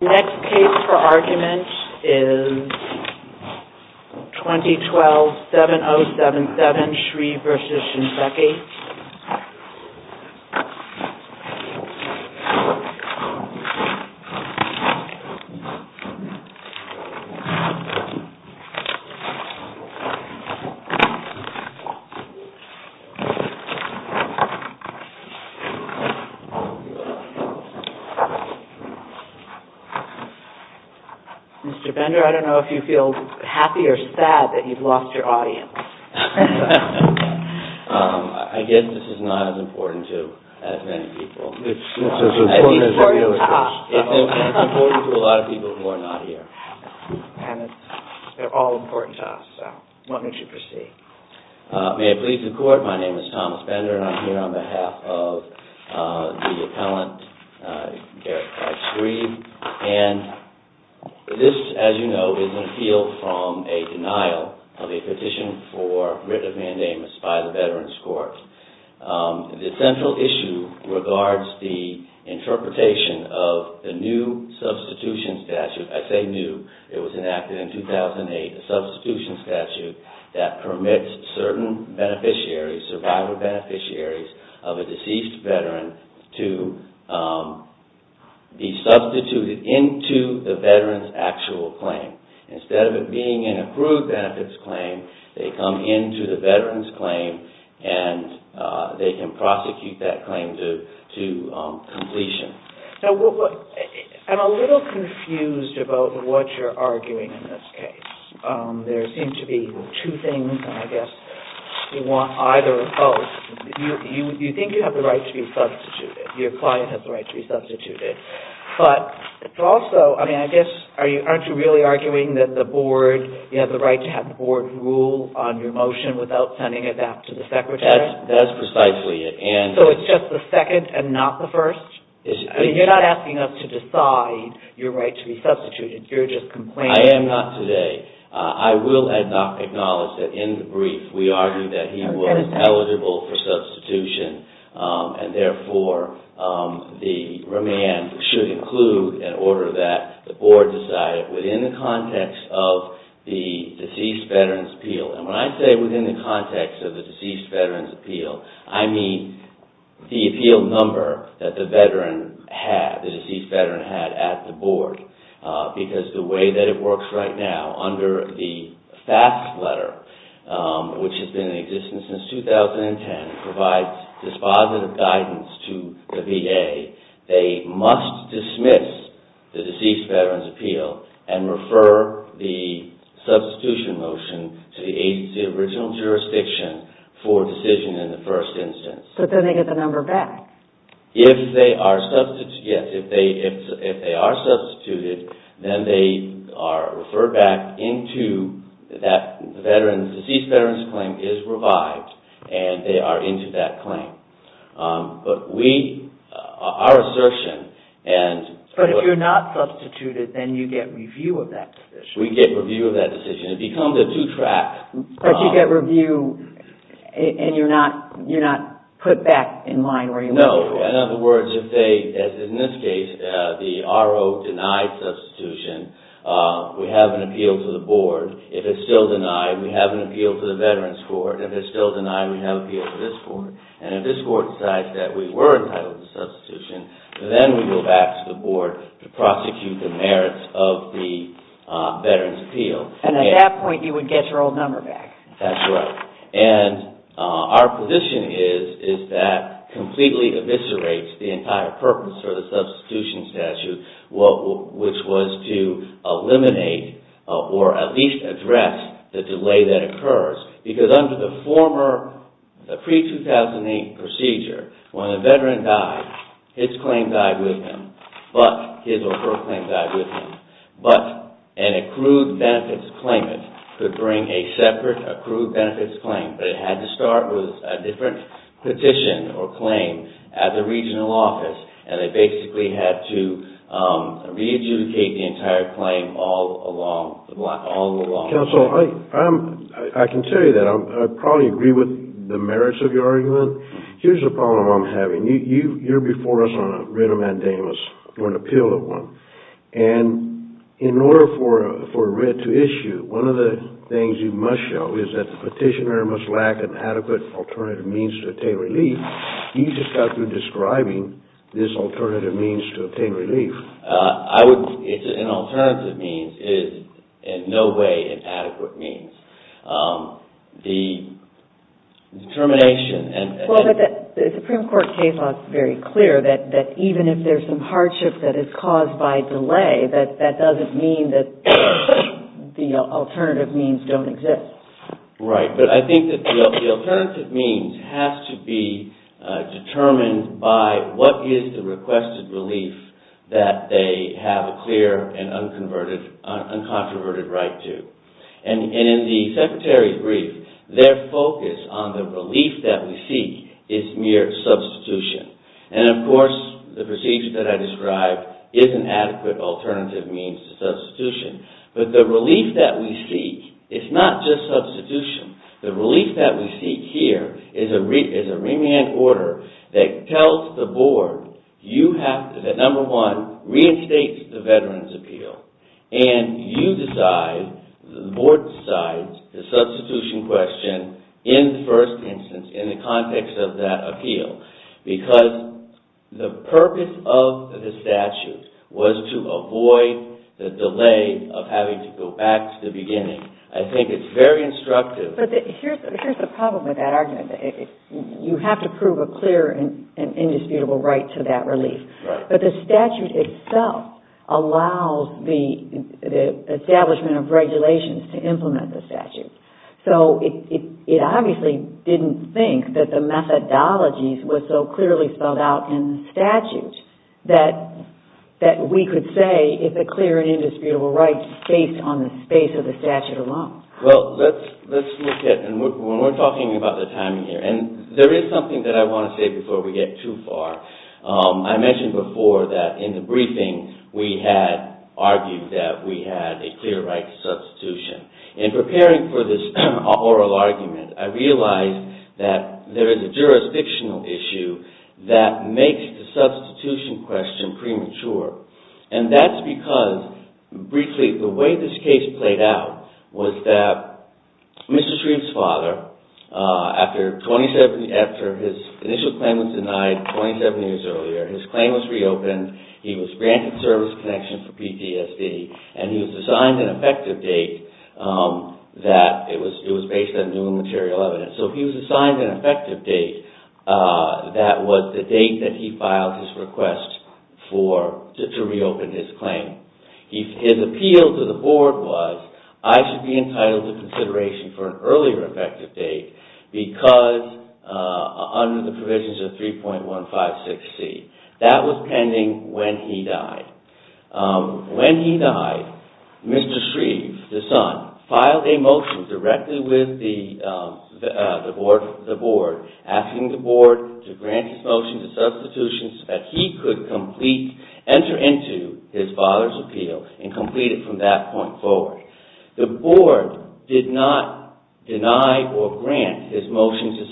Next case for argument is 2012-7077 SHREVE v. SHINSEKI Mr. Bender, I don't know if you feel happy or sad that you've lost your audience. I guess this is not as important to as many people. It's important to us. It's important to a lot of people who are not here. And they're all important to us, so why don't you proceed. May it please the Court, my name is Thomas Bender and I'm here on behalf of the appellant Garrett Price Shreve. And this, as you know, is an appeal from a denial of a petition for writ of mandamus by the Veterans Court. The central issue regards the interpretation of the new substitution statute. As they knew, it was enacted in 2008, a substitution statute that permits certain beneficiaries, survivor beneficiaries of a deceased veteran to be substituted into the veteran's actual claim. Instead of it being an approved benefits claim, they come into the veteran's claim and they can prosecute that claim to completion. Now, I'm a little confused about what you're arguing in this case. There seem to be two things, and I guess you want either or both. You think you have the right to be substituted. Your client has the right to be substituted. But it's also, I mean, I guess, aren't you really arguing that the Board, you have the right to have the Board rule on your motion without sending it back to the Secretary? That's precisely it. So it's just the second and not the first? You're not asking us to decide your right to be substituted. You're just complaining. I am not today. I will acknowledge that in the brief, we argued that he was eligible for substitution, and therefore the remand should include an order that the Board decided within the context of the deceased veteran's appeal. And when I say within the context of the deceased veteran's appeal, I mean the appeal number that the deceased veteran had at the Board. Because the way that it works right now, under the FAFSA letter, which has been in existence since 2010, provides dispositive guidance to the VA. They must dismiss the deceased veteran's appeal and refer the substitution motion to the agency of original jurisdiction for decision in the first instance. But then they get the number back? If they are substituted, yes. If they are substituted, then they are referred back into that veteran's, deceased veteran's claim is revived, and they are into that claim. But our assertion... But if you're not substituted, then you get review of that decision? We get review of that decision. It becomes a two-track... But you get review, and you're not put back in line where you were before? No. In other words, in this case, the RO denied substitution. We have an appeal to the Board. If it's still denied, we have an appeal to the Veterans Court. If it's still denied, we have an appeal to this Court. And if this Court decides that we were entitled to substitution, then we go back to the Board to prosecute the merits of the veteran's appeal. And at that point, you would get your old number back? That's right. And our position is that completely eviscerates the entire purpose for the substitution statute, which was to eliminate or at least address the delay that occurs. Because under the pre-2008 procedure, when a veteran died, his claim died with him, but his or her claim died with him. But an accrued benefits claimant could bring a separate accrued benefits claim. But it had to start with a different petition or claim at the regional office, and they basically had to re-adjudicate the entire claim all along. Counsel, I can tell you that I probably agree with the merits of your argument. Here's a problem I'm having. You're before us on a writ of mandamus or an appeal of one. And in order for a writ to issue, one of the things you must show is that the petitioner must lack an adequate alternative means to obtain relief. You just got through describing this alternative means to obtain relief. An alternative means is in no way an adequate means. The determination and... Well, but the Supreme Court case law is very clear that even if there's some hardship that is caused by delay, that doesn't mean that the alternative means don't exist. Right. But I think that the alternative means has to be determined by what is the requested relief that they have a clear and uncontroverted right to. And in the Secretary's brief, their focus on the relief that we seek is mere substitution. And of course, the procedure that I described is an adequate alternative means to substitution. But the relief that we seek is not just substitution. The relief that we seek here is a remand order that tells the board that, number one, reinstates the Veterans' Appeal. And you decide, the board decides, the substitution question in the first instance, in the context of that appeal. Because the purpose of the statute was to avoid the delay of having to go back to the beginning. I think it's very instructive. But here's the problem with that argument. You have to prove a clear and indisputable right to that relief. But the statute itself allows the establishment of regulations to implement the statute. So it obviously didn't think that the methodologies were so clearly spelled out in the statute that we could say it's a clear and indisputable right based on the space of the statute alone. Well, let's look at, and we're talking about the timing here, and there is something that I want to say before we get too far. I mentioned before that in the briefing, we had argued that we had a clear right to substitution. In preparing for this oral argument, I realized that there is a jurisdictional issue that makes the substitution question premature. And that's because, briefly, the way this case played out was that Mr. Shreve's father, after his initial claim was denied 27 years earlier, his claim was reopened, he was granted service connection for PTSD, and he was assigned an effective date that it was based on new material evidence. So he was assigned an effective date that was the date that he filed his request to reopen his claim. His appeal to the board was, I should be entitled to consideration for an earlier effective date because under the provisions of 3.156C. That was pending when he died. When he died, Mr. Shreve, the son, filed a motion directly with the board, asking the board to grant his motion to substitution so that he could enter into his father's appeal and complete it from that point forward. The board did not deny or grant his motion to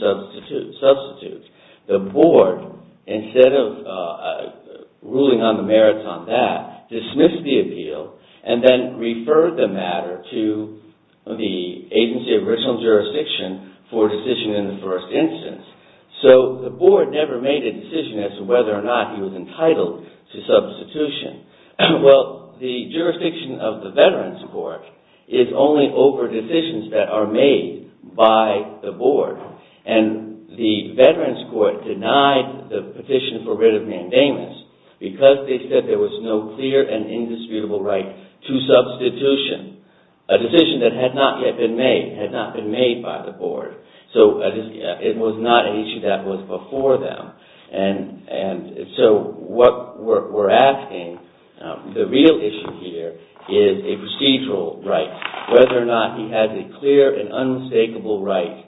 substitute. The board, instead of ruling on the merits on that, dismissed the appeal and then referred the matter to the agency of original jurisdiction for decision in the first instance. So the board never made a decision as to whether or not he was entitled to substitution. Well, the jurisdiction of the Veterans Court is only over decisions that are made by the board. And the Veterans Court denied the petition for writ of mandamus because they said there was no clear and indisputable right to substitution, a decision that had not yet been made, had not been made by the board. So it was not an issue that was before them. And so what we're asking, the real issue here, is a procedural right, whether or not he has a clear and unmistakable right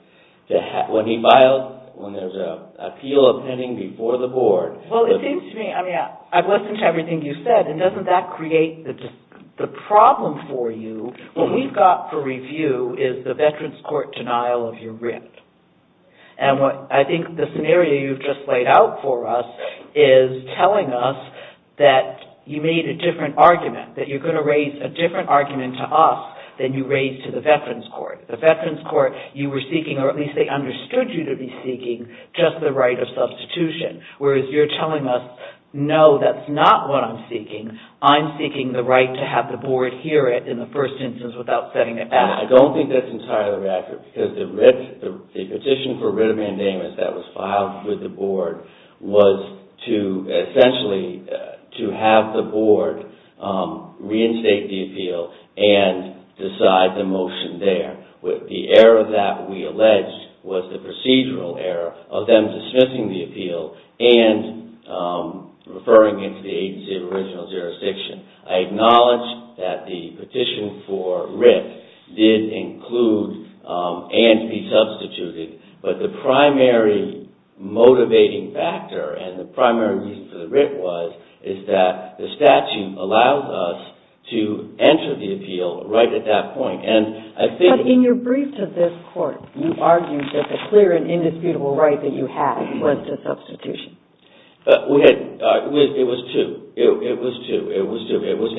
when he files, when there's an appeal pending before the board. Well, it seems to me, I mean, I've listened to everything you've said, and doesn't that create the problem for you? What we've got for review is the Veterans Court denial of your writ. And I think the scenario you've just laid out for us is telling us that you made a different argument, that you're going to raise a different argument to us than you raised to the Veterans Court. The Veterans Court, you were seeking, or at least they understood you to be seeking, just the right of substitution. Whereas you're telling us, no, that's not what I'm seeking. I'm seeking the right to have the board hear it in the first instance without setting it back. I don't think that's entirely accurate, because the petition for writ of mandamus that was filed with the board was to essentially have the board reinstate the appeal and decide the motion there. The error that we alleged was the procedural error of them dismissing the appeal and referring it to the agency of original jurisdiction. I acknowledge that the petition for writ did include and be substituted, but the primary motivating factor and the primary reason for the writ was is that the statute allows us to enter the appeal right at that point. But in your brief to this court, you argued that the clear and indisputable right that you had was to substitution. It was to. It was to. It was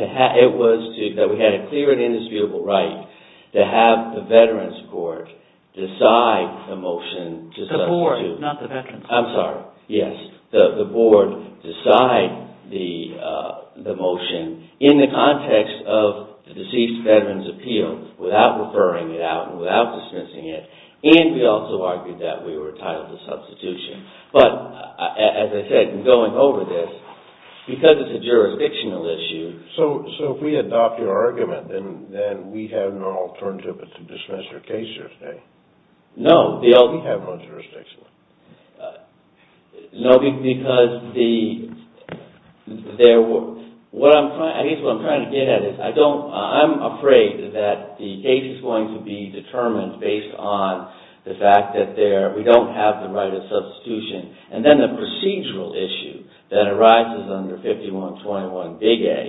that we had a clear and indisputable right to have the Veterans Court decide the motion to substitute. The board, not the veterans. I'm sorry. Yes, the board decide the motion in the context of the deceased veteran's appeal without referring it out and without dismissing it. And we also argued that we were entitled to substitution. But, as I said, going over this, because it's a jurisdictional issue. So, if we adopt your argument, then we have no alternative but to dismiss your case here today. No. We have no jurisdiction. No, because there were. I guess what I'm trying to get at is I'm afraid that the case is going to be determined based on the fact that we don't have the right of substitution. And then the procedural issue that arises under 5121 Big A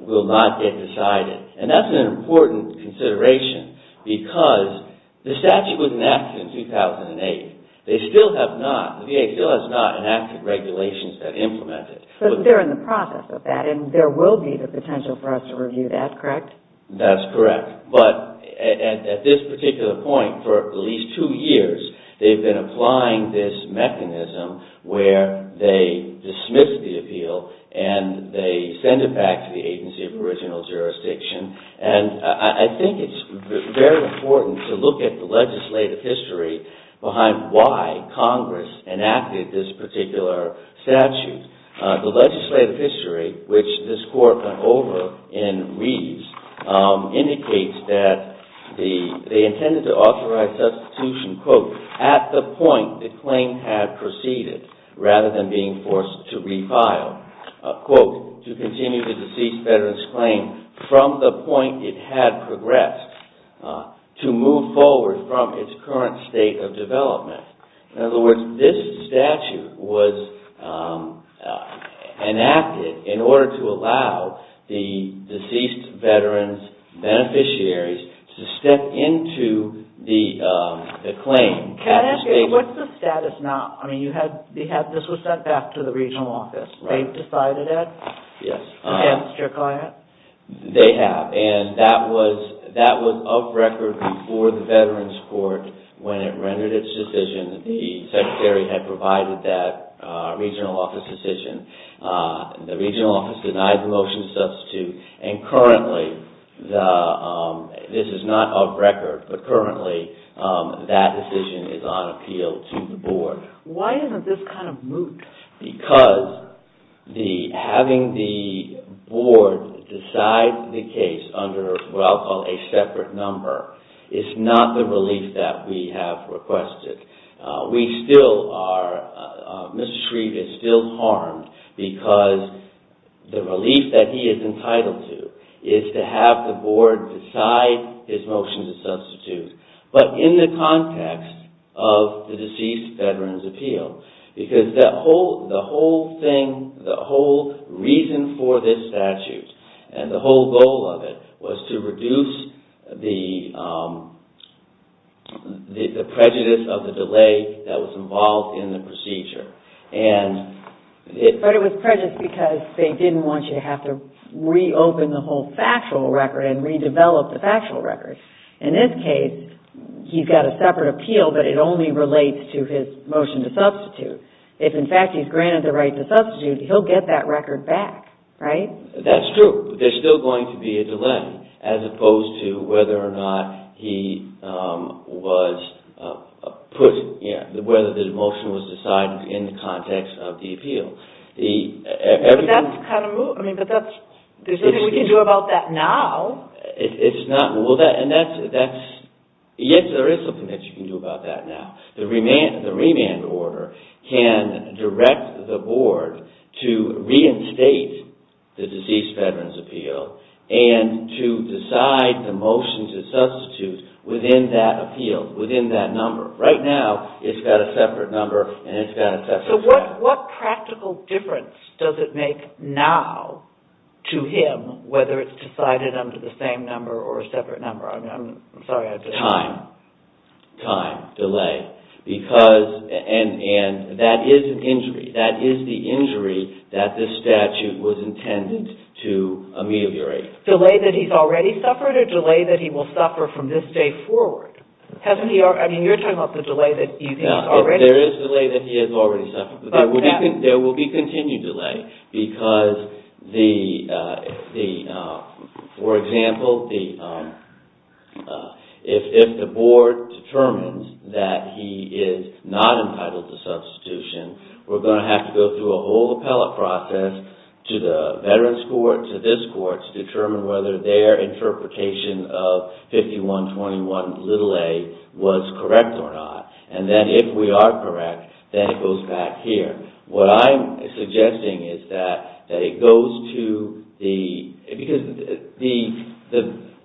will not get decided. And that's an important consideration because the statute was enacted in 2008. The VA still has not enacted regulations that implement it. But they're in the process of that. And there will be the potential for us to review that, correct? That's correct. But at this particular point, for at least two years, they've been applying this mechanism where they dismiss the appeal and they send it back to the agency of original jurisdiction. And I think it's very important to look at the legislative history behind why Congress enacted this particular statute. The legislative history, which this Court went over in Reeves, indicates that they intended to authorize substitution, quote, at the point the claim had proceeded rather than being forced to refile, quote, to continue the deceased veteran's claim from the point it had progressed to move forward from its current state of development. In other words, this statute was enacted in order to allow the deceased veteran's beneficiaries to step into the claim. Can I ask you, what's the status now? I mean, this was sent back to the regional office. They've decided it? Yes. Against your client? They have. And that was of record before the Veterans Court when it rendered its decision. The Secretary had provided that regional office decision. The regional office denied the motion to substitute. And currently, this is not of record, but currently, that decision is on appeal to the board. Why isn't this kind of moot? Because having the board decide the case under what I'll call a separate number is not the relief that we have requested. We still are, Mr. Shreve is still harmed because the relief that he is entitled to is to have But in the context of the deceased veteran's appeal, because the whole thing, the whole reason for this statute and the whole goal of it was to reduce the prejudice of the delay that was involved in the procedure. But it was prejudice because they didn't want you to have to reopen the whole factual record and redevelop the factual record. In this case, he's got a separate appeal, but it only relates to his motion to substitute. If, in fact, he's granted the right to substitute, he'll get that record back, right? That's true. There's still going to be a delay as opposed to whether or not he was put, whether the motion was decided in the context of the appeal. But that's kind of moot. There's nothing we can do about that now. Yes, there is something that you can do about that now. The remand order can direct the board to reinstate the deceased veteran's appeal and to decide the motion to substitute within that appeal, within that number. Right now, it's got a separate number and it's got a separate statute. What practical difference does it make now to him whether it's decided under the same number or a separate number? Time. Time. Delay. And that is an injury. That is the injury that this statute was intended to ameliorate. Delay that he's already suffered or delay that he will suffer from this day forward? There is delay that he has already suffered. There will be continued delay because, for example, if the board determines that he is not entitled to substitution, we're going to have to go through a whole appellate process to the veterans court, to this court, to determine whether their interpretation of 5121a was correct or not. And then, if we are correct, then it goes back here. What I'm suggesting is that it goes to the... Because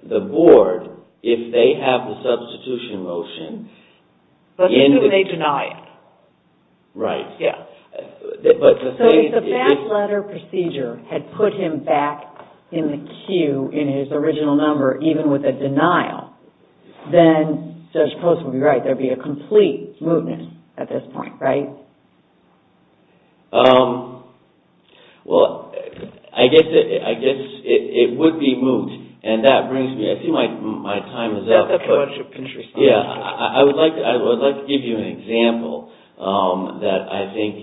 the board, if they have the substitution motion... But then they deny it. Right. Yeah. So, if the batch letter procedure had put him back in the queue in his original number, even with a denial, then Judge Post would be right. There would be a complete mootness at this point, right? Well, I guess it would be moot. And that brings me... I see my time is up. Let's give you an example that I think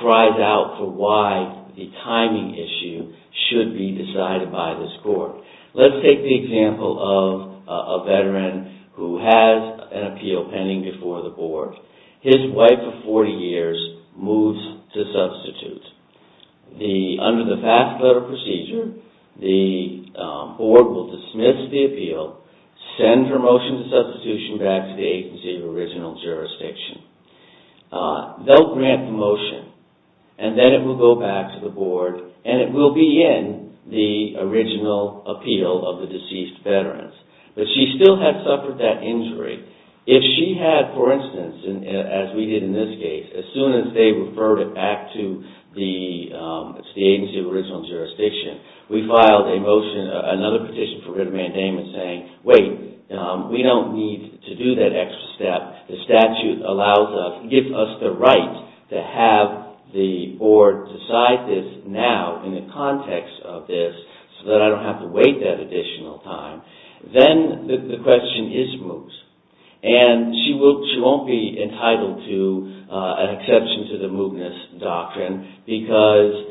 cries out for why the timing issue should be decided by this court. Let's take the example of a veteran who has an appeal pending before the board. His wife of 40 years moves to substitute. Under the batch letter procedure, the board will dismiss the appeal, send her motion to substitution back to the agency of original jurisdiction. They'll grant the motion, and then it will go back to the board, and it will be in the original appeal of the deceased veteran. But she still has suffered that injury. If she had, for instance, as we did in this case, as soon as they referred it back to the agency of original jurisdiction, we filed another petition for writ of mandatement saying, wait, we don't need to do that extra step. The statute gives us the right to have the board decide this now in the context of this so that I don't have to wait that additional time. Then the question is moot. And she won't be entitled to an exception to the mootness doctrine because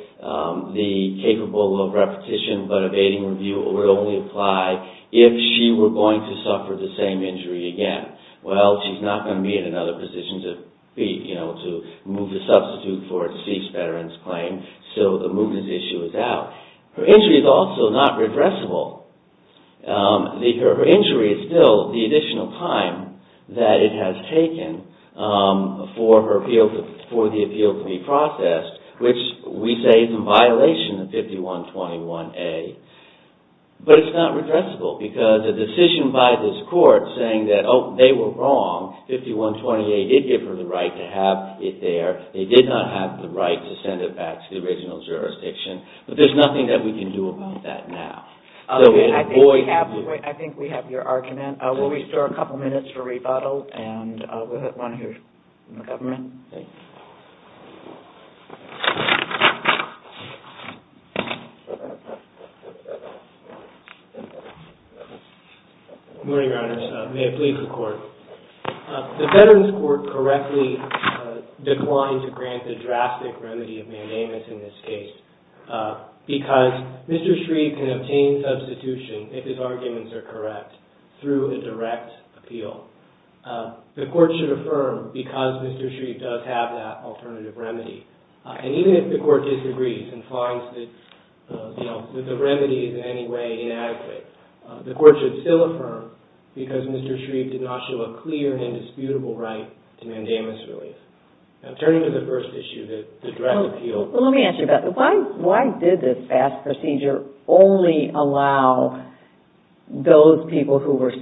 the capable of repetition but abating review will only apply if she were going to suffer the same injury again. Well, she's not going to be in another position to move the substitute for a deceased veteran's claim, so the mootness issue is out. Her injury is also not regressible. Her injury is still the additional time that it has taken for the appeal to be processed, which we say is in violation of 5121A. But it's not regressible because a decision by this court saying that, oh, they were wrong. 5121A did give her the right to have it there. They did not have the right to send it back to the original jurisdiction. But there's nothing that we can do about that now. I think we have your argument. We'll restore a couple minutes for rebuttal, and we'll have one here from the government. Good morning, Your Honors. May it please the Court. The Veterans Court correctly declined to grant the drastic remedy of mandamus in this case because Mr. Shreve can obtain substitution if his arguments are correct through a direct appeal. The Court should affirm because Mr. Shreve does have that alternative remedy. And even if the Court disagrees and finds that the remedy is in any way inadequate, the Court should still affirm because Mr. Shreve did not show a clear and indisputable right to mandamus relief. Now, turning to the first issue, the direct appeal. Let me ask you about that. Why did this FAST procedure only allow those people who were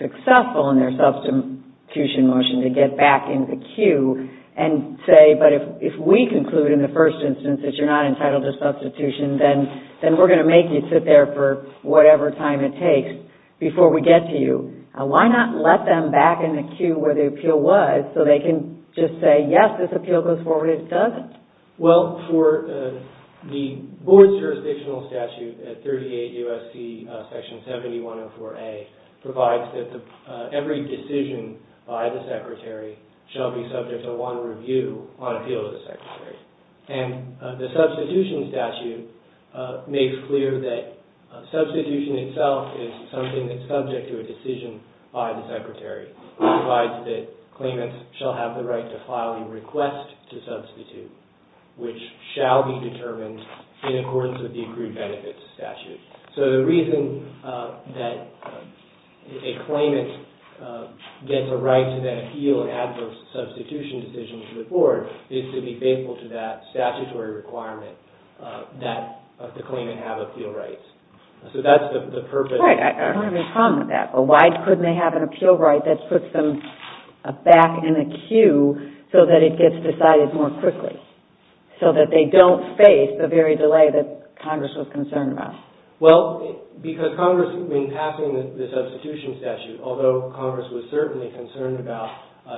successful in their substitution motion to get back in the queue and say, but if we conclude in the first instance that you're not entitled to substitution, then we're going to make you sit there for whatever time it takes before we get to you. Why not let them back in the queue where the appeal was so they can just say, yes, this appeal goes forward if it doesn't? Well, for the Board's jurisdictional statute at 38 U.S.C. Section 7104A provides that every decision by the Secretary shall be subject to one review on appeal to the Secretary. And the substitution statute makes clear that substitution itself is something that's subject to a decision by the Secretary. It provides that claimants shall have the right to file a request to substitute, which shall be determined in accordance with the accrued benefits statute. So the reason that a claimant gets a right to then appeal an adverse substitution decision to the Board is to be faithful to that statutory requirement that the claimant have appeal rights. So that's the purpose. Right. I don't have a problem with that. Why couldn't they have an appeal right that puts them back in a queue so that it gets decided more quickly, so that they don't face the very delay that Congress was concerned about? Well, because Congress, in passing the substitution statute, although Congress was certainly concerned about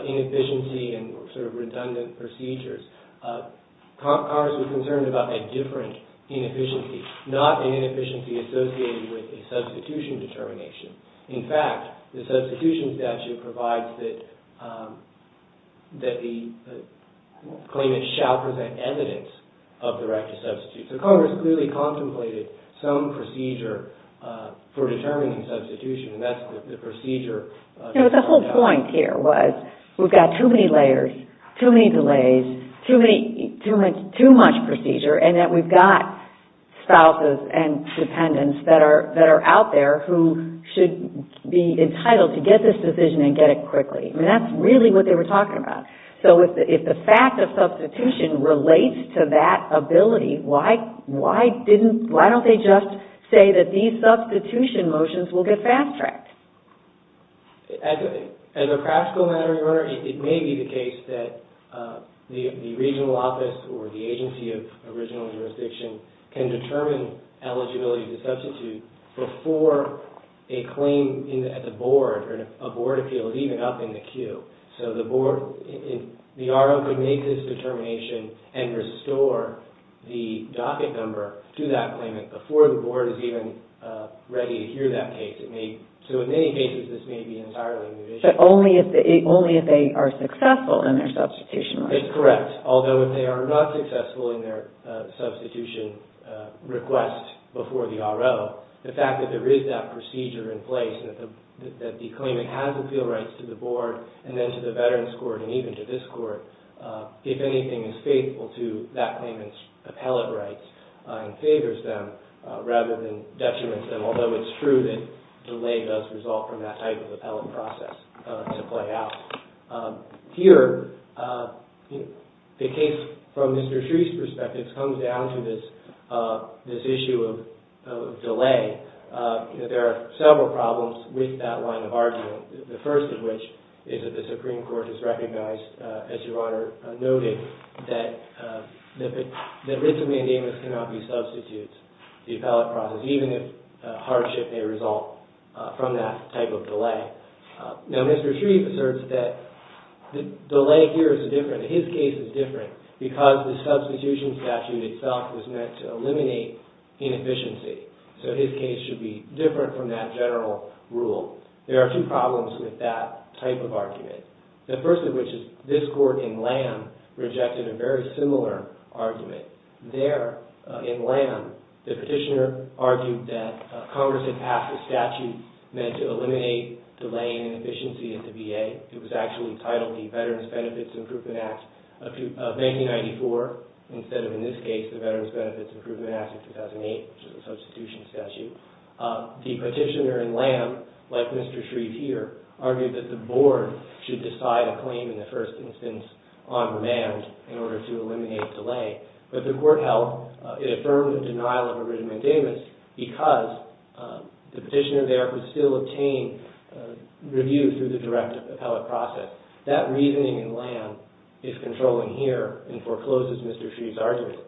inefficiency and sort of redundant procedures, Congress was concerned about a different inefficiency, not an inefficiency associated with a substitution determination. In fact, the substitution statute provides that the claimant shall present evidence of the right to substitute. So Congress clearly contemplated some procedure for determining substitution, and that's the procedure. You know, the whole point here was we've got too many layers, too many delays, too much procedure, and that we've got spouses and dependents that are out there who should be entitled to get this decision and get it quickly. I mean, that's really what they were talking about. So if the fact of substitution relates to that ability, why don't they just say that these substitution motions will get fast-tracked? As a practical matter, Your Honor, it may be the case that the regional office or the agency of original jurisdiction can determine eligibility to substitute before a claim at the board or a board appeal is even up in the queue. So the board, the RO could make this determination and restore the docket number to that claimant before the board is even ready to hear that case. So in many cases, this may be entirely new. But only if they are successful in their substitution request. That's correct. Although if they are not successful in their substitution request before the RO, the fact that there is that procedure in place and that the claimant has appeal rights to the board and then to the veterans court and even to this court, if anything, is faithful to that claimant's appellate rights and favors them rather than detriments them. Although it's true that delay does result from that type of appellate process to play out. Here, the case from Mr. Shree's perspective comes down to this issue of delay. There are several problems with that line of argument, the first of which is that the Supreme Court has recognized, as Your Honor noted, that Ritzman-Davis cannot be substituted, the appellate process, even if hardship may result from that type of delay. Now, Mr. Shree asserts that the delay here is different. His case is different because the substitution statute itself was meant to eliminate inefficiency. So his case should be different from that general rule. There are two problems with that type of argument. The first of which is this court in Lamb rejected a very similar argument. There, in Lamb, the petitioner argued that Congress had passed a statute meant to eliminate delaying inefficiency at the VA. It was actually titled the Veterans Benefits Improvement Act of 1994 instead of, in this case, the Veterans Benefits Improvement Act of 2008, which is a substitution statute. The petitioner in Lamb, like Mr. Shree here, argued that the board should decide a claim in the first instance on demand in order to eliminate delay. But the court held it affirmed the denial of Ritzman-Davis because the petitioner there could still obtain review through the direct appellate process. That reasoning in Lamb is controlling here and forecloses Mr. Shree's argument.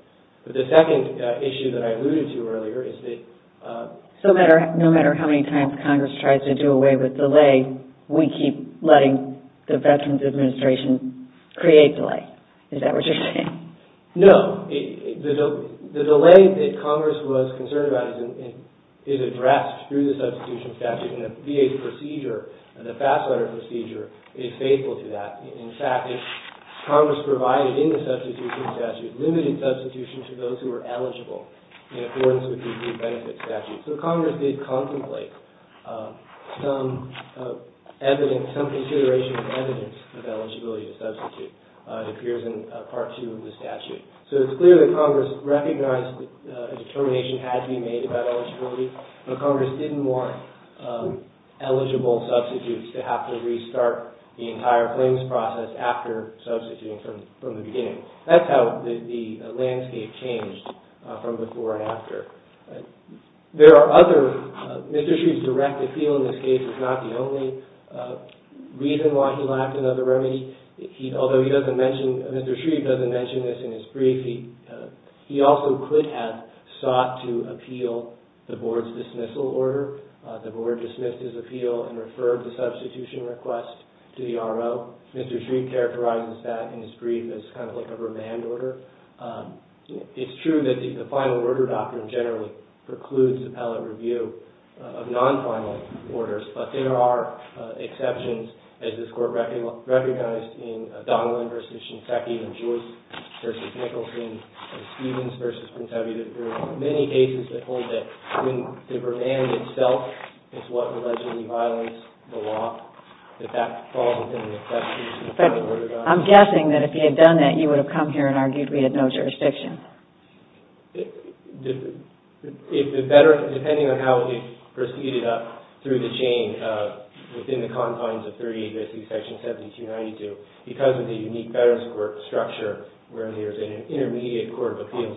But the second issue that I alluded to earlier is that... No matter how many times Congress tries to do away with delay, we keep letting the Veterans Administration create delay. Is that what you're saying? No. The delay that Congress was concerned about is addressed through the substitution statute. And the VA's procedure, the fast letter procedure, is faithful to that. In fact, Congress provided in the substitution statute limited substitution to those who were eligible in accordance with the VA benefits statute. So Congress did contemplate some evidence, some consideration of evidence of eligibility to substitute. It appears in Part 2 of the statute. So it's clear that Congress recognized that a determination had to be made about eligibility. But Congress didn't want eligible substitutes to have to restart the entire claims process after substituting from the beginning. That's how the landscape changed from before and after. There are other... Mr. Shree's direct appeal in this case is not the only reason why he lacked another remedy. Although he doesn't mention... Mr. Shree doesn't mention this in his brief, he also could have sought to appeal the Board's dismissal order. The Board dismissed his appeal and referred the substitution request to the RO. Mr. Shree characterizes that in his brief as kind of like a remand order. It's true that the final order doctrine generally precludes appellate review of non-final orders. But there are exceptions, as this Court recognized in Donnellan v. Shinseki and Joyce v. Nicholson and Stevens v. Pontevi. There are many cases that hold that when the remand itself is what allegedly violates the law, that that falls within the... But I'm guessing that if he had done that, you would have come here and argued we had no jurisdiction. If the veteran, depending on how he proceeded up through the chain, within the confines of 38 B.C. section 1792, because of the unique veterans court structure where there's an intermediate court of appeals,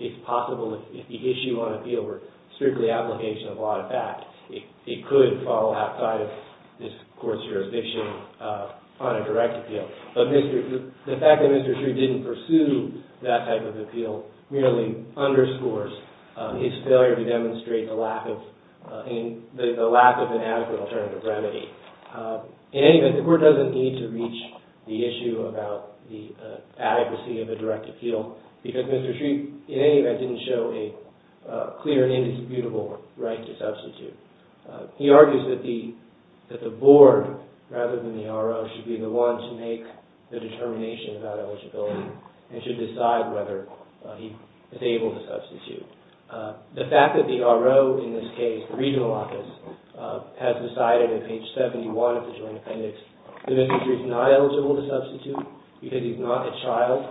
it's possible if the issue on appeal were strictly application of a lot of fact, it could fall outside of this court's jurisdiction on a direct appeal. The fact that Mr. Shree didn't pursue that type of appeal merely underscores his failure to demonstrate the lack of an adequate alternative remedy. In any event, the Court doesn't need to reach the issue about the adequacy of a direct appeal because Mr. Shree, in any event, didn't show a clear and indisputable right to substitute. He argues that the board, rather than the R.O., should be the one to make the determination about eligibility and should decide whether he is able to substitute. The fact that the R.O., in this case, the regional office, has decided on page 71 of the Joint Appendix that Mr. Shree is not eligible to substitute because he's not a child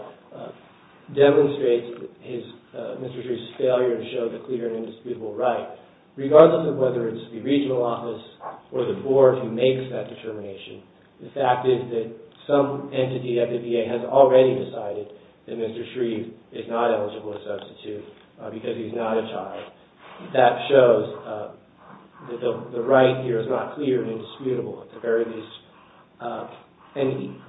demonstrates Mr. Shree's failure to show the clear and indisputable right. Regardless of whether it's the regional office or the board who makes that determination, the fact is that some entity at the VA has already decided that Mr. Shree is not eligible to substitute because he's not a child. That shows that the right here is not clear and indisputable, at the very least. And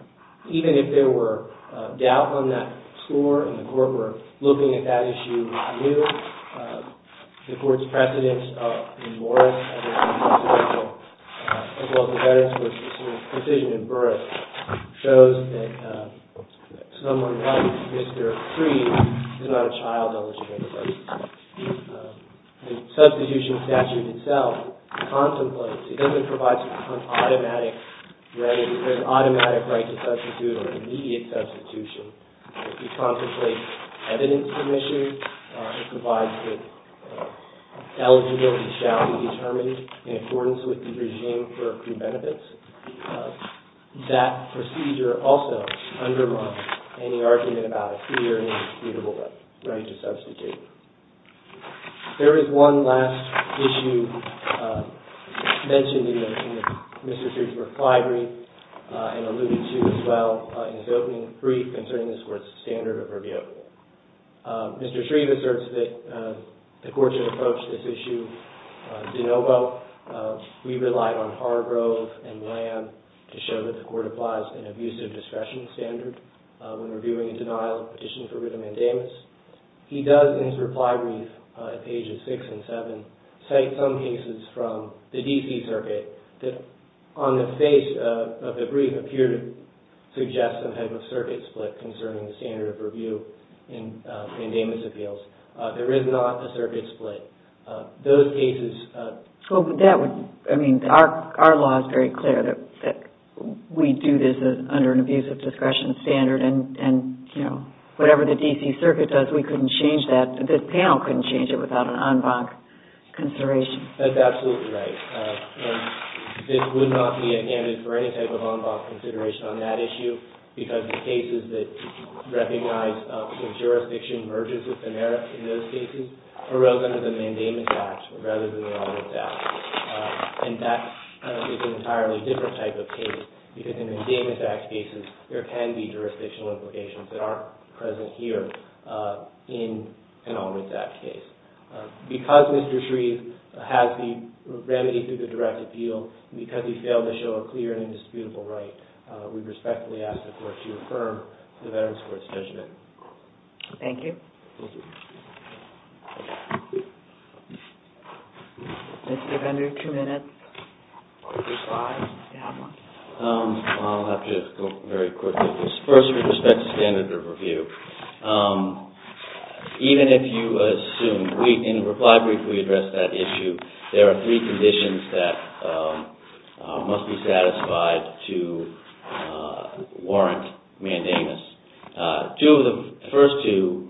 even if there were doubt on that score and the Court were looking at that issue anew, the Court's precedence in Morris, as well as the Veterans' Court's decision in Burris, shows that someone like Mr. Shree is not a child eligible to substitute. The substitution statute itself contemplates, it doesn't provide some kind of automatic right. There's an automatic right to substitute or immediate substitution. It contemplates evidence submissions. It provides that eligibility shall be determined in accordance with the regime for accrued benefits. That procedure also undermines any argument about a clear and indisputable right to substitute. There is one last issue mentioned in Mr. Shree's reply brief and alluded to as well in his opening brief concerning this Court's standard of review. Mr. Shree asserts that the Court should approach this issue de novo. We relied on Hargrove and Lamb to show that the Court applies an abusive discretion standard when reviewing a denial of petition for written mandamus. He does, in his reply brief, pages 6 and 7, cite some cases from the D.C. Circuit that, on the face of the brief, appear to suggest some type of circuit split concerning the standard of review in mandamus appeals. There is not a circuit split. Those cases... Our law is very clear that we do this under an abusive discretion standard and whatever the D.C. Circuit does, we couldn't change that. This panel couldn't change it without an en banc consideration. That's absolutely right. This would not be a candidate for any type of en banc consideration on that issue because the cases that recognize the jurisdiction merges with the merits in those cases arose under the Mandamus Act rather than the Alderts Act. That is an entirely different type of case because in the Mandamus Act cases, there can be jurisdictional implications that aren't present here in an Alderts Act case. Because Mr. Shreve has the remedy through the direct appeal and because he failed to show a clear and indisputable right, we respectfully ask the Court to affirm the Veterans Court's judgment. Thank you. Mr. Vendor, two minutes. I'll have to go very quickly. First, with respect to standard of review, even if you assume, in the reply brief we addressed that issue, there are three conditions that must be satisfied to warrant mandamus. The first two,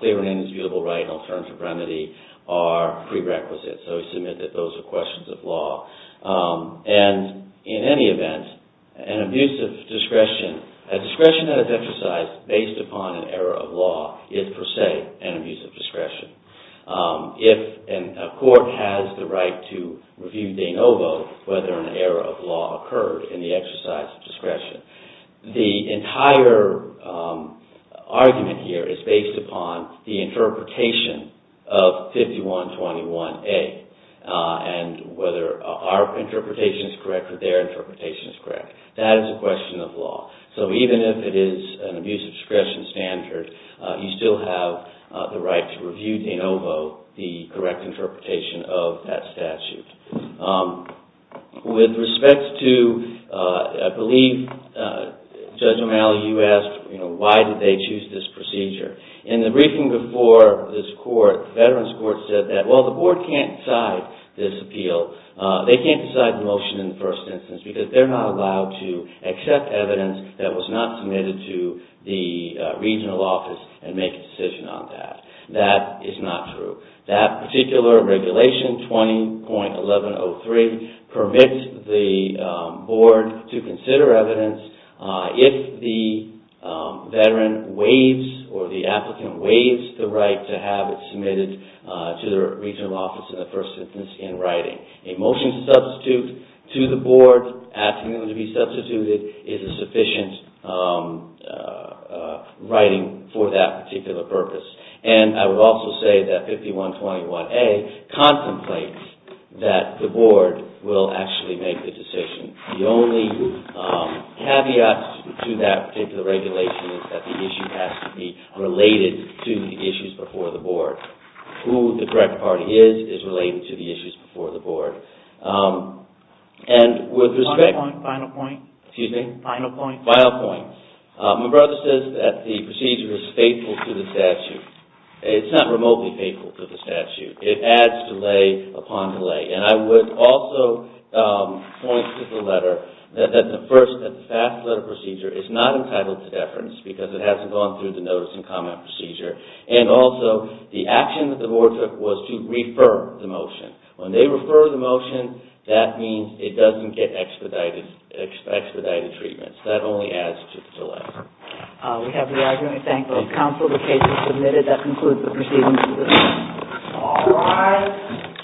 clear and indisputable right and alternative remedy, are prerequisites. So we submit that those are questions of law. And in any event, an abusive discretion, a discretion that is exercised based upon an error of law is, per se, an abusive discretion. If a court has the right to review de novo whether an error of law occurred in the exercise of discretion, the entire argument here is based upon the interpretation of 5121A and whether our interpretation is correct or their interpretation is correct. That is a question of law. So even if it is an abusive discretion standard, you still have the right to review de novo the correct interpretation of that statute. With respect to, I believe, Judge O'Malley, you asked why did they choose this procedure. In the briefing before this Court, the Veterans Court said that, while the Board can't decide this appeal, they can't decide the motion in the first instance because they're not allowed to accept evidence that was not submitted to the regional office and make a decision on that. That is not true. That particular regulation, 20.1103, permits the Board to consider evidence if the Veteran waives or the applicant waives the right to have it submitted to the regional office in the first instance in writing. A motion to substitute to the Board, asking them to be substituted, is a sufficient writing for that particular purpose. And I would also say that 5121A contemplates that the Board will actually make the decision. The only caveat to that particular regulation is that the issue has to be related to the issues before the Board. Who the correct party is, is related to the issues before the Board. And with respect... Final point, final point. Excuse me? Final point. Final point. My brother says that the procedure is faithful to the statute. It's not remotely faithful to the statute. It adds delay upon delay. And I would also point to the letter that the first, that the fast letter procedure is not entitled to deference because it hasn't gone through the notice and comment procedure. And also, the action that the Board took was to refer the motion. When they refer the motion, that means it doesn't get expedited treatment. That only adds to the delay. We have the argument to thank both counsel, the case is submitted. That concludes the proceedings. All rise.